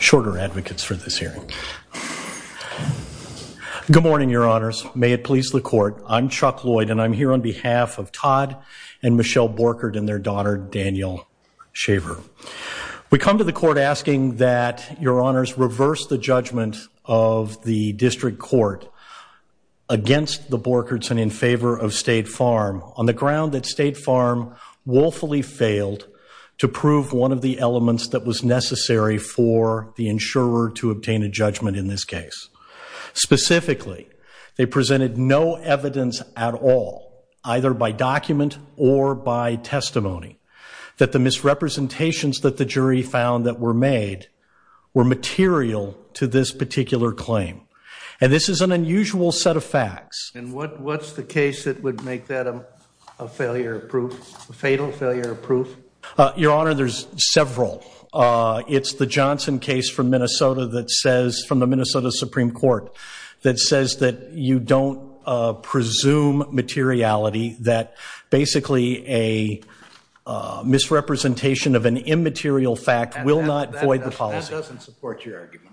Shorter advocates for this hearing. Good morning, your honors. May it please the court. I'm Chuck Lloyd and I'm here on behalf of Todd and Michelle Borchardt and their daughter, Daniel Shaver. We come to the court asking that your honors reverse the judgment of the district court against the Borchards and in favor of State Farm on the ground that State Farm woefully failed to prove one of the elements that was necessary for the insurer to obtain a judgment in this case. Specifically, they presented no evidence at all, either by document or by testimony, that the misrepresentations that the jury found that were made were material to this particular claim. And this is an unusual set of facts. And what what's the case that would make that a failure of proof, a fatal failure of proof? Your honor, there's several. It's the Johnson case from Minnesota that says, from the Minnesota Supreme Court, that says that you don't presume materiality, that basically a misrepresentation of an immaterial fact will not avoid the policy. That doesn't support your argument.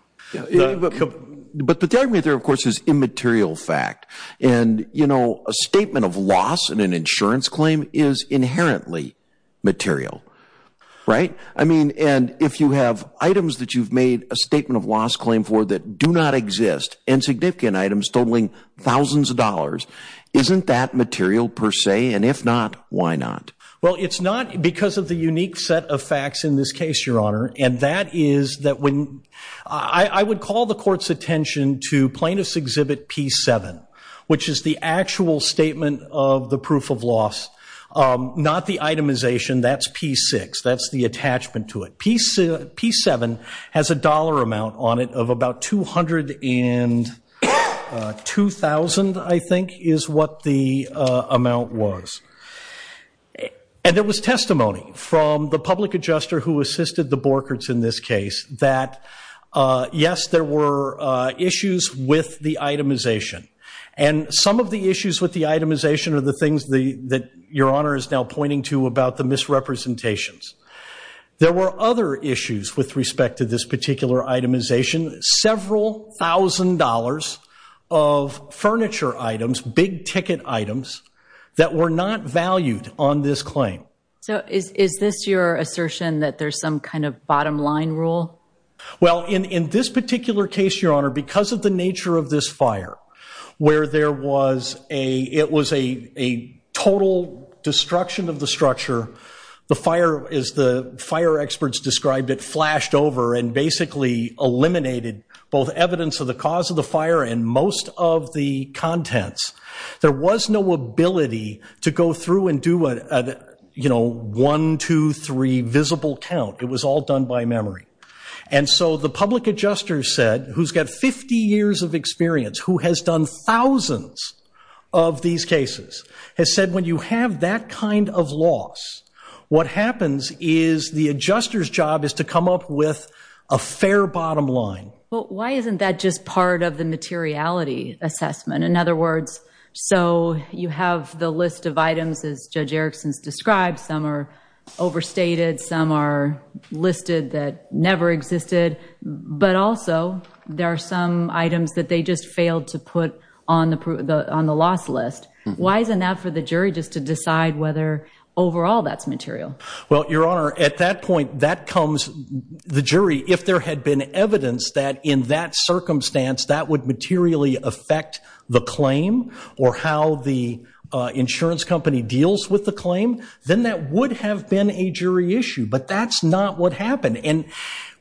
But the argument there, of course, is immaterial fact. And, you know, a statement of loss in an insurance claim is inherently material, right? I mean, and if you have items that you've made a statement of loss claim for that do not exist, insignificant items totaling thousands of dollars, isn't that material per se? And if not, why not? Well, it's not because of the unique set of facts in this case, your honor. And that is that when I would call the court's attention to plaintiff's exhibit P7, which is the actual statement of the proof of loss, not the itemization. That's P6. That's the attachment to it. P7 has a dollar amount on it of about two hundred and two thousand, I think, is what the amount was. And there was testimony from the public adjuster who assisted the Borkerts in this case that, yes, there were issues with the itemization. And some of the issues with the itemization are the things that your honor is now pointing to about the misrepresentations. There were other issues with respect to this particular itemization, several thousand dollars of furniture items, big ticket items that were not valued on this claim. So is this your assertion that there's some kind of bottom line rule? Well, in this particular case, your honor, because of the nature of this fire where there was a it was a a total destruction of the structure, the fire is the fire experts described it flashed over and basically eliminated both evidence of the cause of the fire and most of the contents. There was no ability to go through and do what you know, one, two, three visible count. It was all done by memory. And so the public adjuster said, who's got 50 years of experience, who has done thousands of these cases, has said, when you have that kind of loss, what happens is the adjuster's job is to come up with a fair bottom line. Well, why isn't that just part of the materiality assessment? In other words, so you have the list of items, as Judge Erickson's described, some are overstated, some are listed that never existed, but also there are some items that they just failed to put on the on the loss list. Why isn't that for the jury just to decide whether overall that's material? Well, Your Honor, at that point, that comes the jury. If there had been evidence that in that circumstance that would materially affect the claim or how the insurance company deals with the claim, then that would have been a jury issue. But that's not what happened. And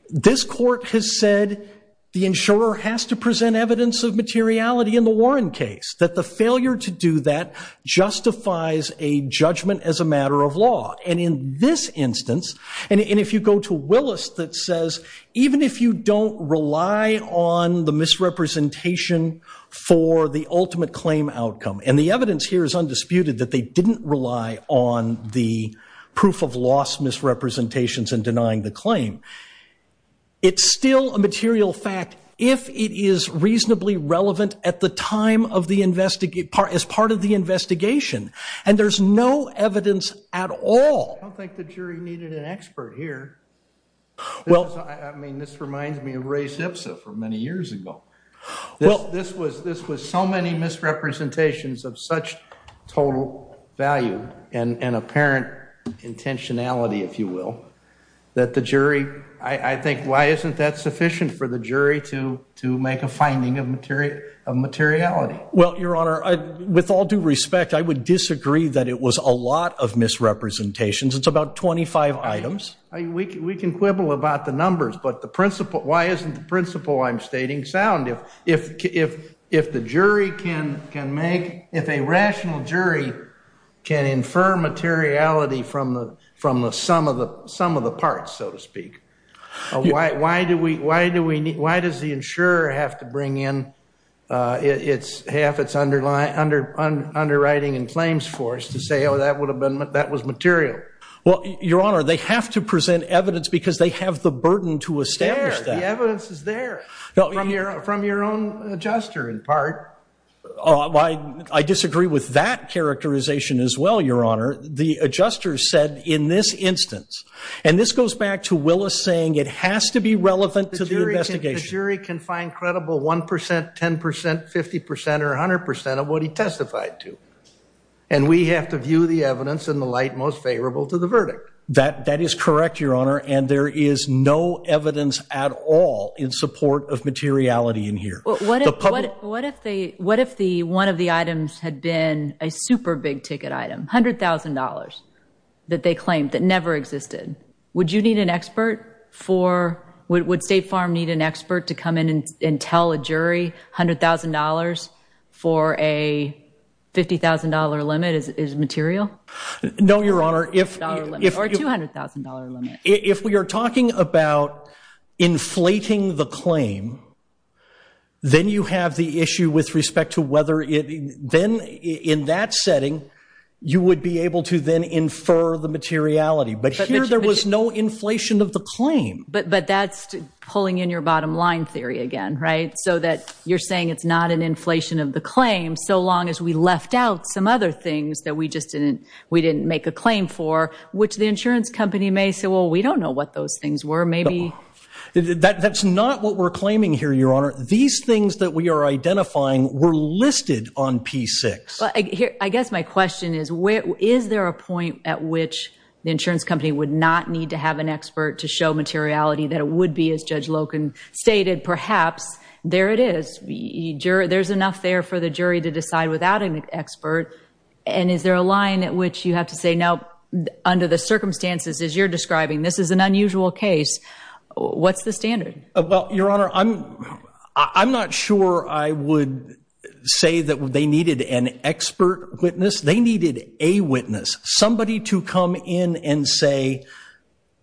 this court has said the insurer has to present evidence of materiality in the Warren case, that the failure to do that justifies a judgment as a matter of law. And in this instance, and if you go to Willis, that says, even if you don't rely on the misrepresentation for the ultimate claim outcome, and the evidence here is undisputed that they didn't rely on the proof of loss misrepresentations and denying the claim. It's still a material fact if it is reasonably relevant at the time of the investigation, as part of the investigation. And there's no evidence at all. I don't think the jury needed an expert here. Well, I mean, this reminds me of Ray's HPSA for many years ago. Well, this was this was so many misrepresentations of such total value and apparent intentionality, if you will, that the jury, I think, why isn't that sufficient for the jury to to make a finding of material of materiality? Well, Your Honor, with all due respect, I would disagree that it was a lot of misrepresentations. It's about twenty five items. We can quibble about the numbers. But the principle, why isn't the principle I'm stating sound? If if if if the jury can can make if a rational jury can infer materiality from the from the sum of the sum of the parts, so to speak. Why why do we why do we why does the insurer have to bring in its half its underlying under underwriting and claims force to say, oh, that would have been that was material? Well, Your Honor, they have to present evidence because they have the burden to establish that evidence is there from your from your own adjuster, in part. Why? I disagree with that characterization as well. Your Honor, the adjuster said in this instance and this goes back to Willis saying it has to be relevant to the jury can find credible one percent, 10 percent, 50 percent or 100 percent of what he testified to. And we have to view the evidence in the light most favorable to the verdict that that is correct, Your Honor. And there is no evidence at all in support of materiality in here. What if what if they what if the one of the items had been a super big ticket item, 100000 dollars that they claimed that never existed? Would you need an expert for what would State Farm need an expert to come in and tell a jury? Hundred thousand dollars for a fifty thousand dollar limit is material. No, Your Honor, if if you hundred thousand dollar limit, if we are talking about inflating the claim, then you have the issue with respect to whether then in that setting you would be able to then infer the materiality. But here there was no inflation of the claim. But but that's pulling in your bottom line theory again. Right. So that you're saying it's not an inflation of the claim so long as we left out some other things that we just didn't we didn't make a claim for, which the insurance company may say, well, we don't know what those things were. Maybe that's not what we're claiming here, Your Honor. These things that we are identifying were listed on P6. I guess my question is, is there a point at which the insurance company would not need to have an expert to show materiality that it would be, as Judge Loken stated? Perhaps there it is. There's enough there for the jury to decide without an expert. And is there a line at which you have to say now under the circumstances as you're describing, this is an unusual case? What's the standard? Well, Your Honor, I'm I'm not sure I would say that they needed an expert witness. They needed a witness, somebody to come in and say,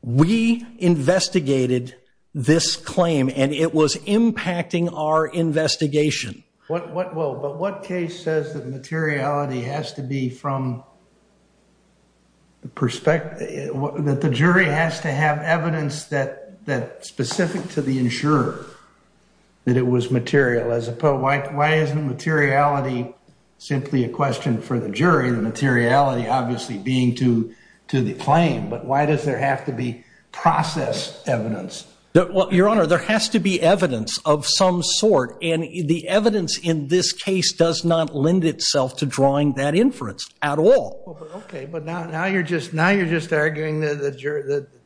we investigated this claim and it was impacting our investigation. Well, but what case says that materiality has to be from the perspective that the jury has to have evidence that that specific to the insurer that it was material as opposed to why isn't materiality simply a question for the jury, the materiality obviously being to to the claim. But why does there have to be process evidence? Well, Your Honor, there has to be evidence of some sort. And the evidence in this case does not lend itself to drawing that inference at all. OK, but now now you're just now you're just arguing that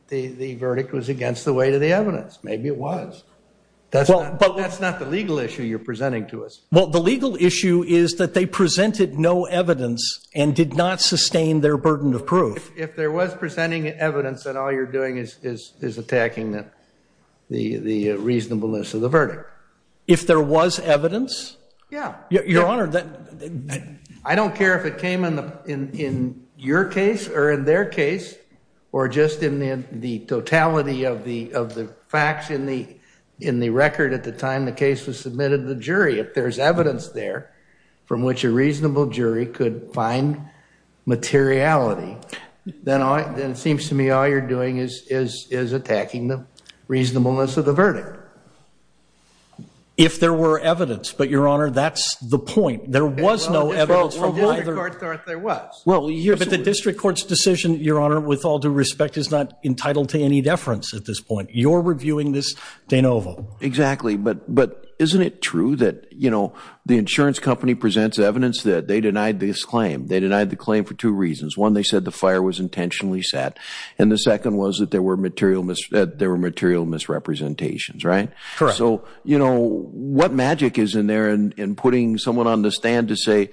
the verdict was against the weight of the evidence. Maybe it was. That's well, but that's not the legal issue you're presenting to us. Well, the legal issue is that they presented no evidence and did not sustain their burden of proof. If there was presenting evidence and all you're doing is is is attacking the the reasonableness of the verdict, if there was evidence. Yeah. Your Honor, I don't care if it came in the in your case or in their case or just in the totality of the of the facts in the in the record at the time the case was submitted to the jury. If there's evidence there from which a reasonable jury could find materiality, then then it seems to me all you're doing is is is attacking the reasonableness of the verdict. If there were evidence, but Your Honor, that's the point. There was no evidence from what the court thought there was. Well, you hear that the district court's decision, Your Honor, with all due respect, is not entitled to any deference at this point. You're reviewing this de novo. Exactly. But but isn't it true that, you know, the insurance company presents evidence that they denied this claim. They denied the claim for two reasons. One, they said the fire was intentionally set. And the second was that there were material there were material misrepresentations. Right. Correct. So, you know, what magic is in there and putting someone on the stand to say,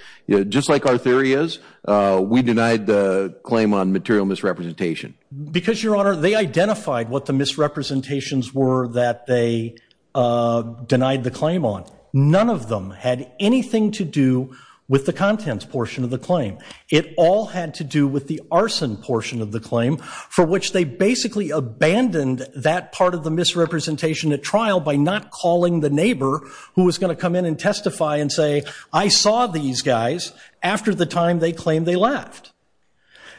just like our theory is, we denied the claim on material misrepresentation. Because, Your Honor, they identified what the misrepresentations were that they denied the claim on. None of them had anything to do with the contents portion of the claim. It all had to do with the arson portion of the claim for which they basically abandoned that part of the misrepresentation at trial by not calling the neighbor who was going to come in and testify and say, I saw these guys after the time they claimed they left.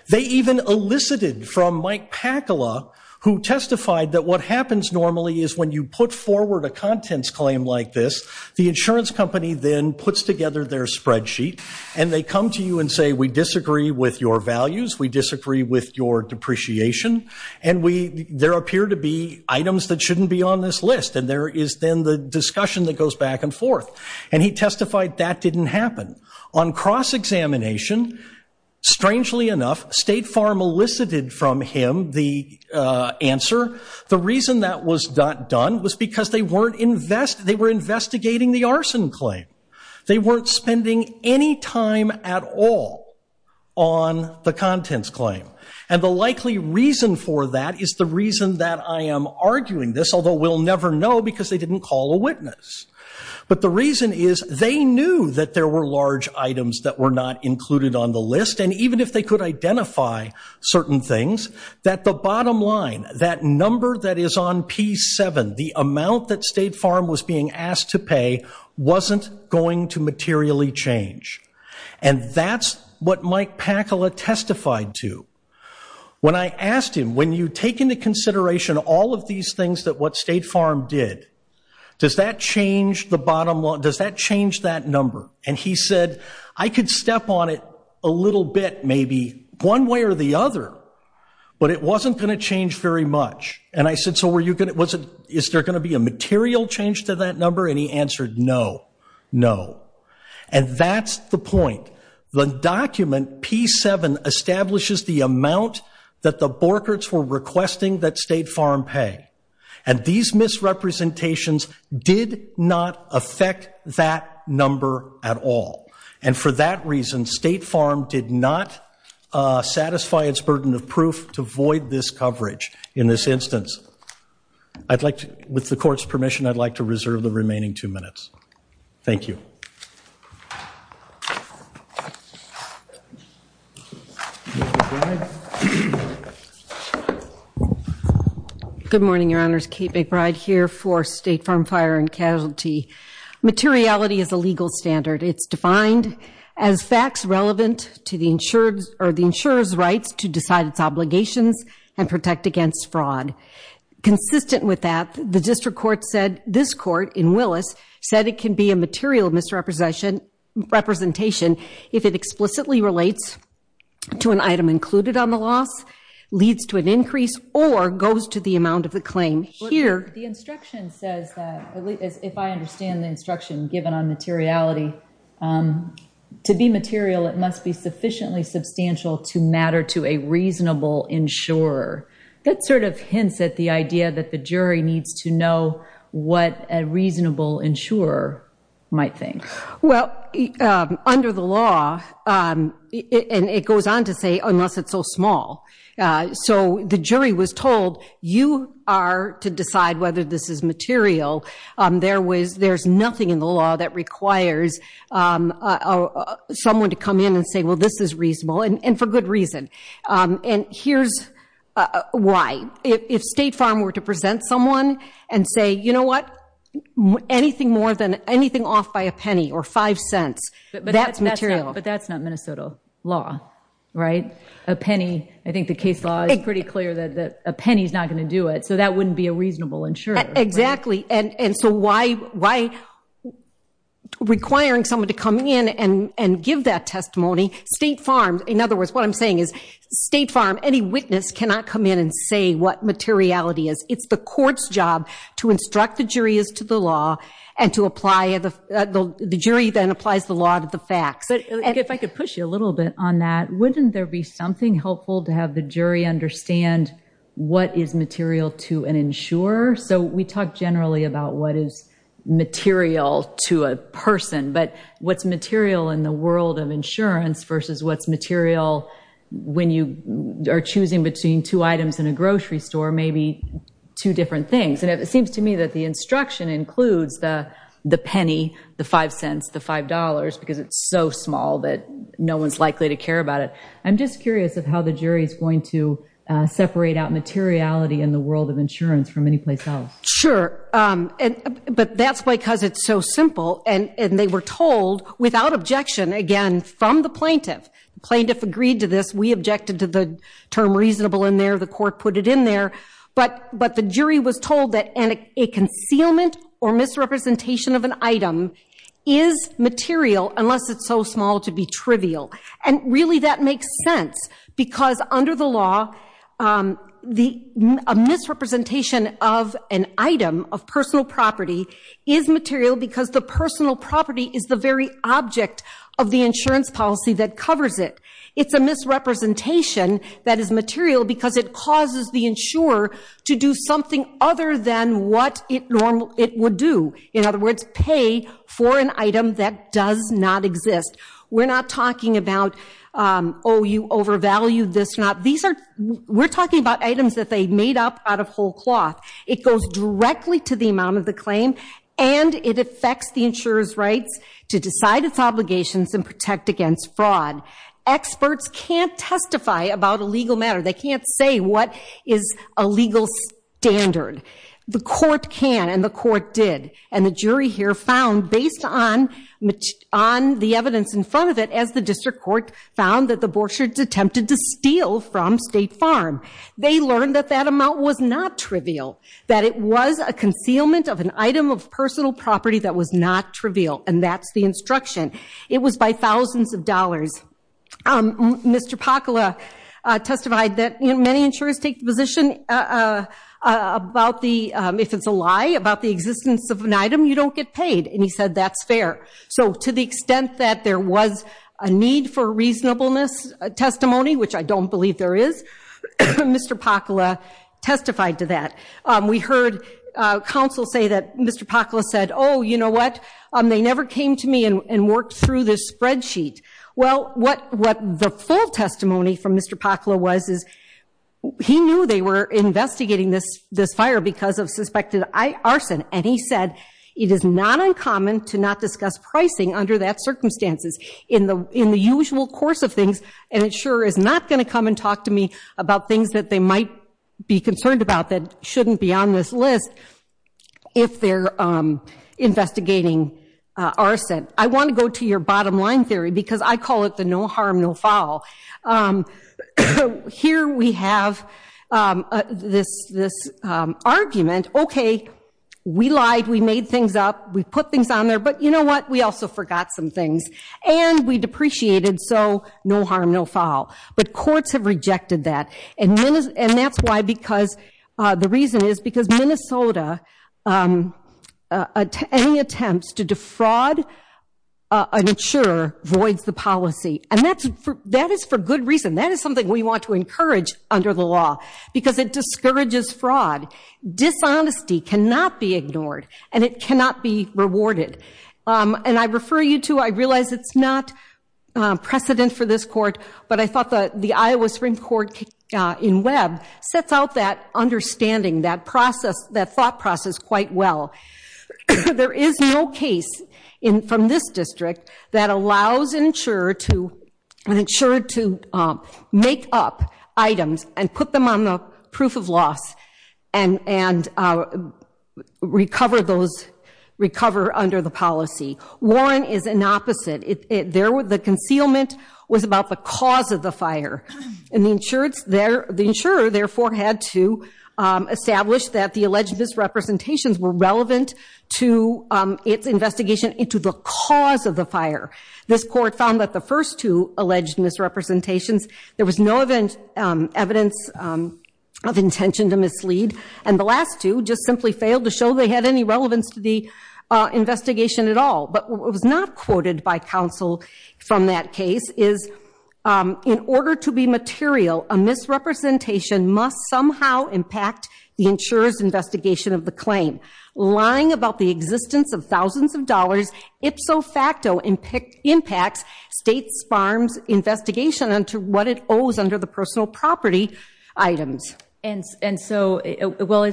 They even elicited from Mike Pakala, who testified that what happens normally is when you put forward a contents claim like this, the insurance company then puts together their spreadsheet and they come to you and say, we disagree with your values. We disagree with your depreciation. And we there appear to be items that shouldn't be on this list. And there is then the discussion that goes back and forth. And he testified that didn't happen. On cross-examination, strangely enough, State Farm elicited from him the answer. The reason that was not done was because they were investigating the arson claim. They weren't spending any time at all on the contents claim. And the likely reason for that is the reason that I am arguing this, although we'll never know because they didn't call a witness. But the reason is they knew that there were large items that were not included on the list. And even if they could identify certain things, that the bottom line, that number that is on P7, the amount that State Farm was being asked to pay, wasn't going to materially change. And that's what Mike Pakala testified to. When I asked him, when you take into consideration all of these things that what State Farm did, does that change the bottom line? Does that change that number? And he said, I could step on it a little bit, maybe one way or the other, but it wasn't going to change very much. And I said, so is there going to be a material change to that number? And he answered, no, no. And that's the point. The document P7 establishes the amount that the Borkerts were requesting that State Farm pay. And these misrepresentations did not affect that number at all. And for that reason, State Farm did not satisfy its burden of proof to void this coverage in this instance. I'd like to, with the court's permission, I'd like to reserve the remaining two minutes. Thank you. Ms. McBride. Good morning, Your Honors. Kate McBride here for State Farm Fire and Casualty. Materiality is a legal standard. It's defined as facts relevant to the insurer's rights to decide its obligations and protect against fraud. Consistent with that, the district court said, this court in Willis, said it can be a material misrepresentation if it explicitly relates to an item included on the loss, leads to an increase, or goes to the amount of the claim. Here, the instruction says that, if I understand the instruction given on materiality, to be material it must be sufficiently substantial to matter to a reasonable insurer. That sort of hints at the idea that the jury needs to know what a reasonable insurer might think. Well, under the law, and it goes on to say, unless it's so small. So the jury was told, you are to decide whether this is material. There's nothing in the law that requires someone to come in and say, well, this is reasonable, and for good reason. And here's why. If State Farm were to present someone and say, you know what, anything more than anything off by a penny or five cents, that's material. But that's not Minnesota law, right? A penny, I think the case law is pretty clear that a penny is not going to do it. So that wouldn't be a reasonable insurer. Exactly. And so why requiring someone to come in and give that testimony? State Farm, in other words, what I'm saying is State Farm, any witness cannot come in and say what materiality is. It's the court's job to instruct the jury as to the law and to apply, the jury then applies the law to the facts. If I could push you a little bit on that, wouldn't there be something helpful to have the jury understand what is material to an insurer? So we talk generally about what is material to a person. But what's material in the world of insurance versus what's material when you are choosing between two items in a grocery store, maybe two different things. And it seems to me that the instruction includes the penny, the five cents, the five dollars, because it's so small that no one's likely to care about it. I'm just curious of how the jury is going to separate out materiality in the world of insurance from anyplace else. Sure. But that's because it's so simple and they were told without objection, again, from the plaintiff. Plaintiff agreed to this. We objected to the term reasonable in there. The court put it in there. But the jury was told that a concealment or misrepresentation of an item is material unless it's so small to be trivial. And really that makes sense because under the law, a misrepresentation of an item of personal property is material because the personal property is the very object of the insurance policy that covers it. It's a misrepresentation that is material because it causes the insurer to do something other than what it would do. In other words, pay for an item that does not exist. We're not talking about, oh, you overvalued this or not. These are, we're talking about items that they made up out of whole cloth. It goes directly to the amount of the claim and it affects the insurer's rights to decide its obligations and protect against fraud. Experts can't testify about a legal matter. They can't say what is a legal standard. The court can and the court did. And the jury here found, based on the evidence in front of it, as the district court found that the Borkshires attempted to steal from State Farm. They learned that that amount was not trivial. That it was a concealment of an item of personal property that was not trivial. And that's the instruction. It was by thousands of dollars. Mr. Pakula testified that many insurers take the position about the, if it's a lie, about the existence of an item, you don't get paid. And he said that's fair. So to the extent that there was a need for reasonableness testimony, which I don't believe there is, Mr. Pakula testified to that. We heard counsel say that Mr. Pakula said, oh, you know what, they never came to me and worked through this spreadsheet. Well, what the full testimony from Mr. Pakula was, is he knew they were investigating this fire because of suspected arson. And he said it is not uncommon to not discuss pricing under that circumstances in the usual course of things. And insurer is not going to come and talk to me about things that they might be concerned about that shouldn't be on this list if they're investigating arson. I want to go to your bottom line theory, because I call it the no harm, no foul. Here we have this argument. Okay, we lied. We made things up. We put things on there. But you know what? We also forgot some things. And we depreciated. So no harm, no foul. But courts have rejected that. And that's why, because the reason is because Minnesota, any attempts to defraud an insurer voids the policy. And that is for good reason. That is something we want to encourage under the law, because it discourages fraud. Dishonesty cannot be ignored. And it cannot be rewarded. And I refer you to, I realize it's not precedent for this court, but I thought that the Iowa Supreme Court in Webb sets out that understanding, that thought process quite well. There is no case from this district that allows an insurer to make up items and put them on the proof of loss and recover under the policy. Warren is an opposite. The concealment was about the cause of the fire. And the insurer therefore had to establish that the alleged misrepresentations were relevant to its investigation into the cause of the fire. This court found that the first two alleged misrepresentations, there was no evidence of intention to mislead. And the last two just simply failed to show they had any relevance to the investigation at all. But what was not quoted by counsel from that case is, in order to be material, a misrepresentation must somehow impact the insurer's investigation of the claim. Lying about the existence of thousands of dollars ipso facto impacts states farm's investigation into what it owes under the personal property items. And so, well,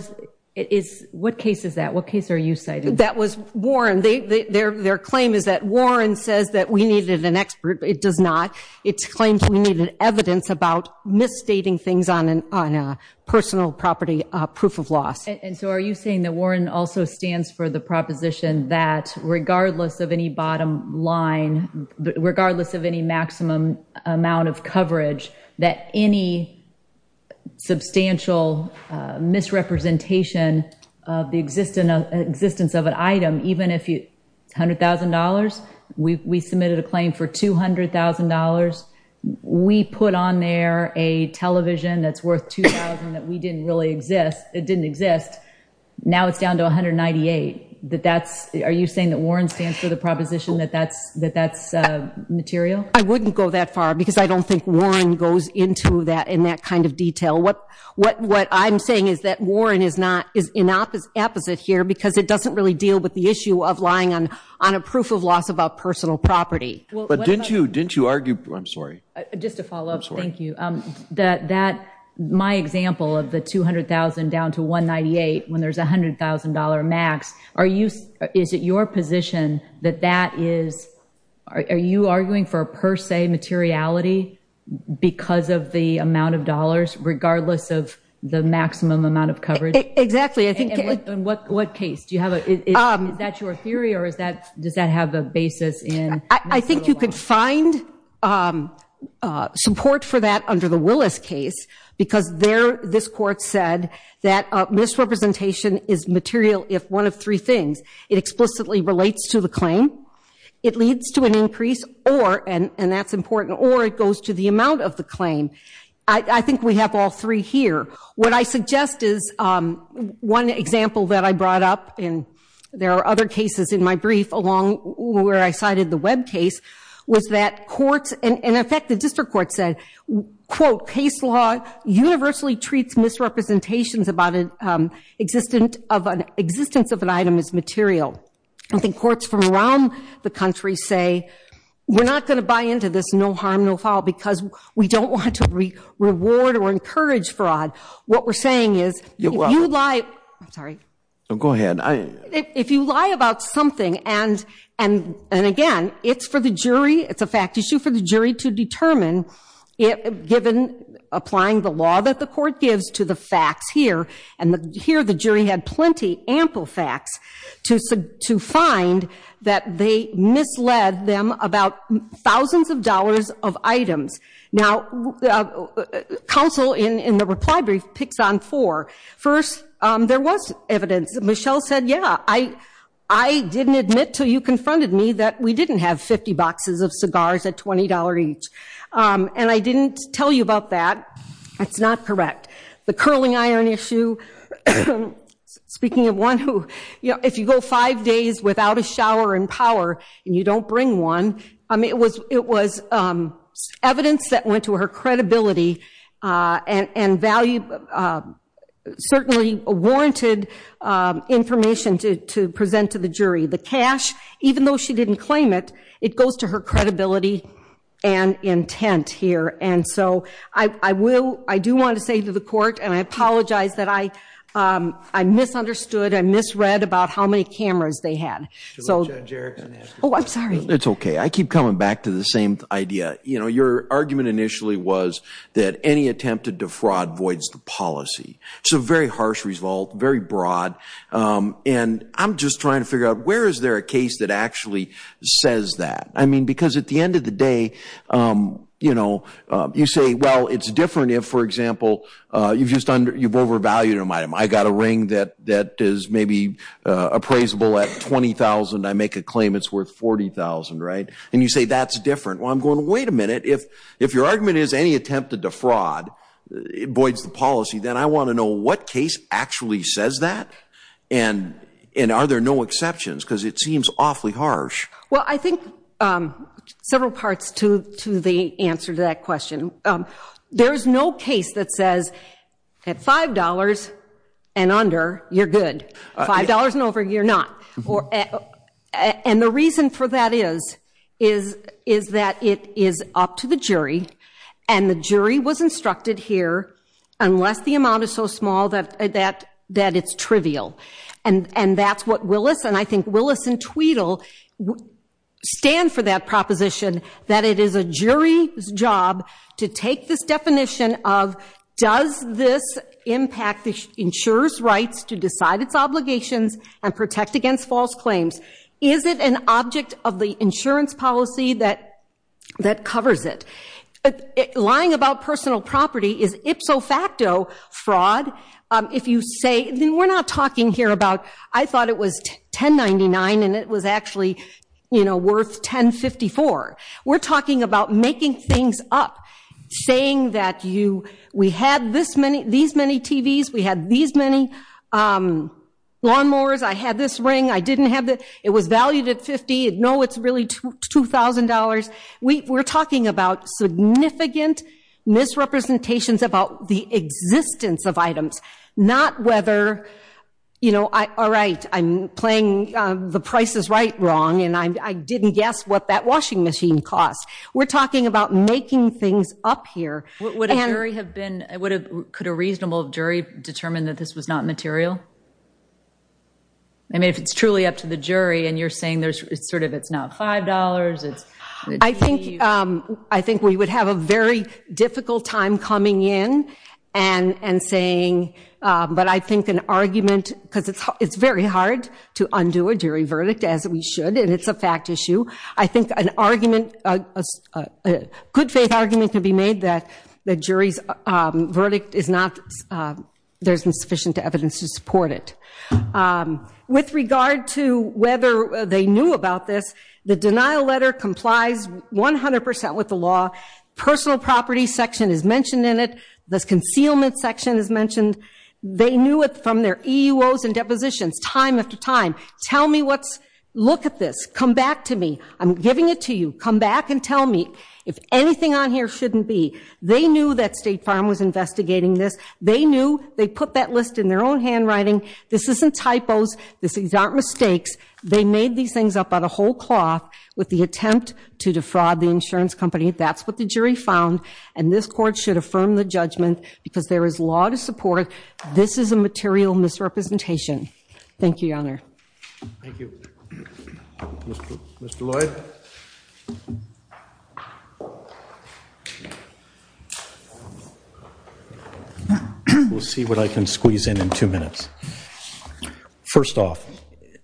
what case is that? What case are you citing? That was Warren. Their claim is that Warren says that we needed an expert. It does not. It's claimed we needed evidence about misstating things on a personal property proof of loss. And so are you saying that Warren also stands for the proposition that regardless of any bottom line, regardless of any maximum amount of coverage, that any substantial misrepresentation of the existence of an item, even if it's $100,000, we submitted a claim for $200,000. We put on there a television that's worth $2,000 that we didn't really exist. It didn't exist. Now it's down to $198,000. Are you saying that Warren stands for the proposition that that's material? I wouldn't go that far because I don't think Warren goes into that in that kind of detail. What what what I'm saying is that Warren is not is in opposite opposite here because it doesn't really deal with the issue of lying on on a proof of loss about personal property. But didn't you didn't you argue? I'm sorry. Just to follow up. Thank you. That that my example of the $200,000 down to $198,000 when there's $100,000 max. Are you is it your position that that is are you arguing for a per se materiality because of the amount of dollars regardless of the maximum amount of coverage? Exactly. I think in what what case do you have? Is that your theory or is that does that have a basis in? I think you could find support for that under the Willis case because there this court said that misrepresentation is material. If one of three things it explicitly relates to the claim, it leads to an increase or and that's important or it goes to the amount of the claim. I think we have all three here. What I suggest is one example that I brought up and there are other cases in my brief along where I cited the web case was that courts and in effect, the district court said, quote, case law universally treats misrepresentations about an existence of an existence of an item is material. I think courts from around the country say we're not going to buy into this. No harm, no foul, because we don't want to reward or encourage fraud. What we're saying is you lie. I'm sorry. Go ahead. I if you lie about something and and and again, it's for the jury. It's a fact issue for the jury to determine. Given applying the law that the court gives to the facts here and here, the jury had plenty ample facts to to find that they misled them about thousands of dollars of items. Now, counsel in the reply brief picks on four. First, there was evidence. Michelle said, yeah, I I didn't admit to you confronted me that we didn't have 50 boxes of cigars at twenty dollars each. And I didn't tell you about that. That's not correct. The curling iron issue. Speaking of one who if you go five days without a shower and power and you don't bring one. I mean, it was it was evidence that went to her credibility and value, certainly warranted information to to present to the jury. The cash, even though she didn't claim it, it goes to her credibility and intent here. And so I will I do want to say to the court and I apologize that I I misunderstood. I misread about how many cameras they had. So, oh, I'm sorry. It's OK. I keep coming back to the same idea. You know, your argument initially was that any attempt to defraud voids the policy. It's a very harsh result, very broad. And I'm just trying to figure out where is there a case that actually says that? I mean, because at the end of the day, you know, you say, well, it's different if, for example, you've just you've overvalued a item. I got a ring that that is maybe appraisable at twenty thousand. I make a claim it's worth forty thousand. Right. And you say that's different. Well, I'm going to wait a minute. If if your argument is any attempt to defraud voids the policy, then I want to know what case actually says that. And and are there no exceptions? Because it seems awfully harsh. Well, I think several parts to to the answer to that question. There is no case that says at five dollars and under, you're good. Five dollars and over, you're not. And the reason for that is, is is that it is up to the jury. And the jury was instructed here unless the amount is so small that that that it's trivial. And and that's what Willis and I think Willis and Tweedle stand for that proposition, that it is a jury's job to take this definition of does this impact the insurer's rights to decide its obligations and protect against false claims? Is it an object of the insurance policy that that covers it? Lying about personal property is ipso facto fraud. If you say we're not talking here about I thought it was ten ninety nine and it was actually, you know, worth ten fifty four. We're talking about making things up, saying that you we had this many these many TVs. We had these many lawnmowers. I had this ring. I didn't have it. It was valued at 50. No, it's really two thousand dollars. We were talking about significant misrepresentations about the existence of items, not whether, you know, all right, I'm playing the price is right, wrong. And I didn't guess what that washing machine cost. We're talking about making things up here. What would a jury have been? I would have. Could a reasonable jury determine that this was not material? I mean, if it's truly up to the jury and you're saying there's sort of it's not five dollars. It's I think I think we would have a very difficult time coming in and saying, but I think an argument because it's it's very hard to undo a jury verdict as we should. And it's a fact issue. I think an argument, a good faith argument can be made that the jury's verdict is not there's insufficient evidence to support it. With regard to whether they knew about this, the denial letter complies 100 percent with the law. Personal property section is mentioned in it. This concealment section is mentioned. They knew it from their egos and depositions time after time. Tell me what's look at this. Come back to me. I'm giving it to you. Come back and tell me if anything on here shouldn't be. They knew that State Farm was investigating this. They knew they put that list in their own handwriting. This isn't typos. This is not mistakes. They made these things up on a whole cloth with the attempt to defraud the insurance company. That's what the jury found. And this court should affirm the judgment because there is law to support. This is a material misrepresentation. Thank you, Your Honor. Thank you, Mr. Lloyd. We'll see what I can squeeze in in two minutes. First off,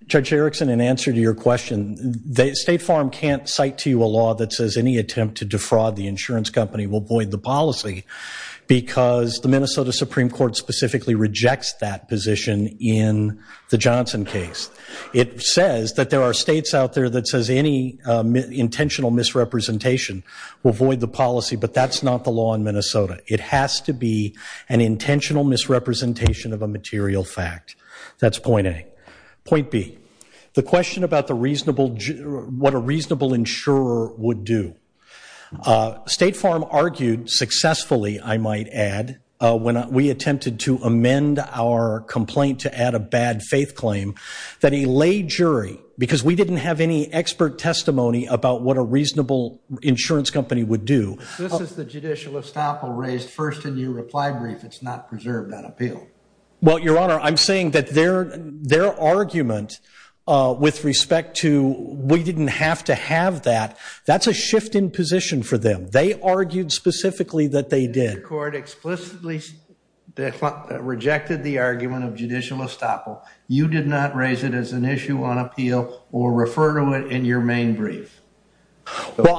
Judge Erickson, in answer to your question, State Farm can't cite to you a law that says any attempt to defraud the insurance company will void the policy because the Minnesota Supreme Court specifically rejects that position in the Johnson case. It says that there are states out there that says any intentional misrepresentation will void the policy. But that's not the law in Minnesota. It has to be an intentional misrepresentation of a material fact. That's point A. Point B, the question about what a reasonable insurer would do. State Farm argued successfully, I might add, when we attempted to amend our complaint to add a bad faith claim, that he laid jury because we didn't have any expert testimony about what a reasonable insurance company would do. This is the judicial estoppel raised first in your reply brief. It's not preserved on appeal. Well, Your Honor, I'm saying that their argument with respect to we didn't have to have that, that's a shift in position for them. They argued specifically that they did. The court explicitly rejected the argument of judicial estoppel. You did not raise it as an issue on appeal or refer to it in your main brief. Well,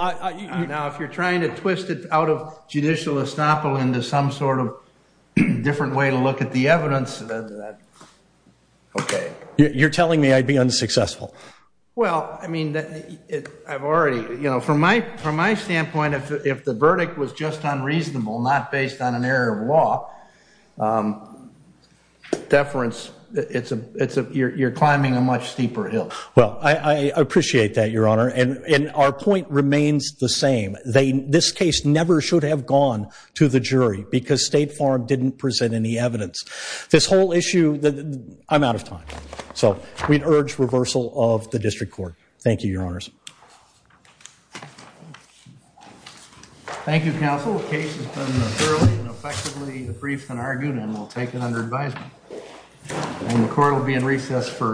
now, if you're trying to twist it out of judicial estoppel into some sort of different way to look at the evidence, then that, okay. You're telling me I'd be unsuccessful? Well, I mean, I've already, you know, from my standpoint, if the verdict was just unreasonable, not based on an error of law, deference, it's a, you're climbing a much steeper hill. Well, I appreciate that, Your Honor. And our point remains the same. They, this case never should have gone to the jury because State Farm didn't present any evidence. This whole issue, I'm out of time. So we'd urge reversal of the district court. Thank you, Your Honors. Thank you, counsel. The case has been thoroughly and effectively briefed and argued, and we'll take it under advisement. And the court will be in recess for an entire 15 minutes.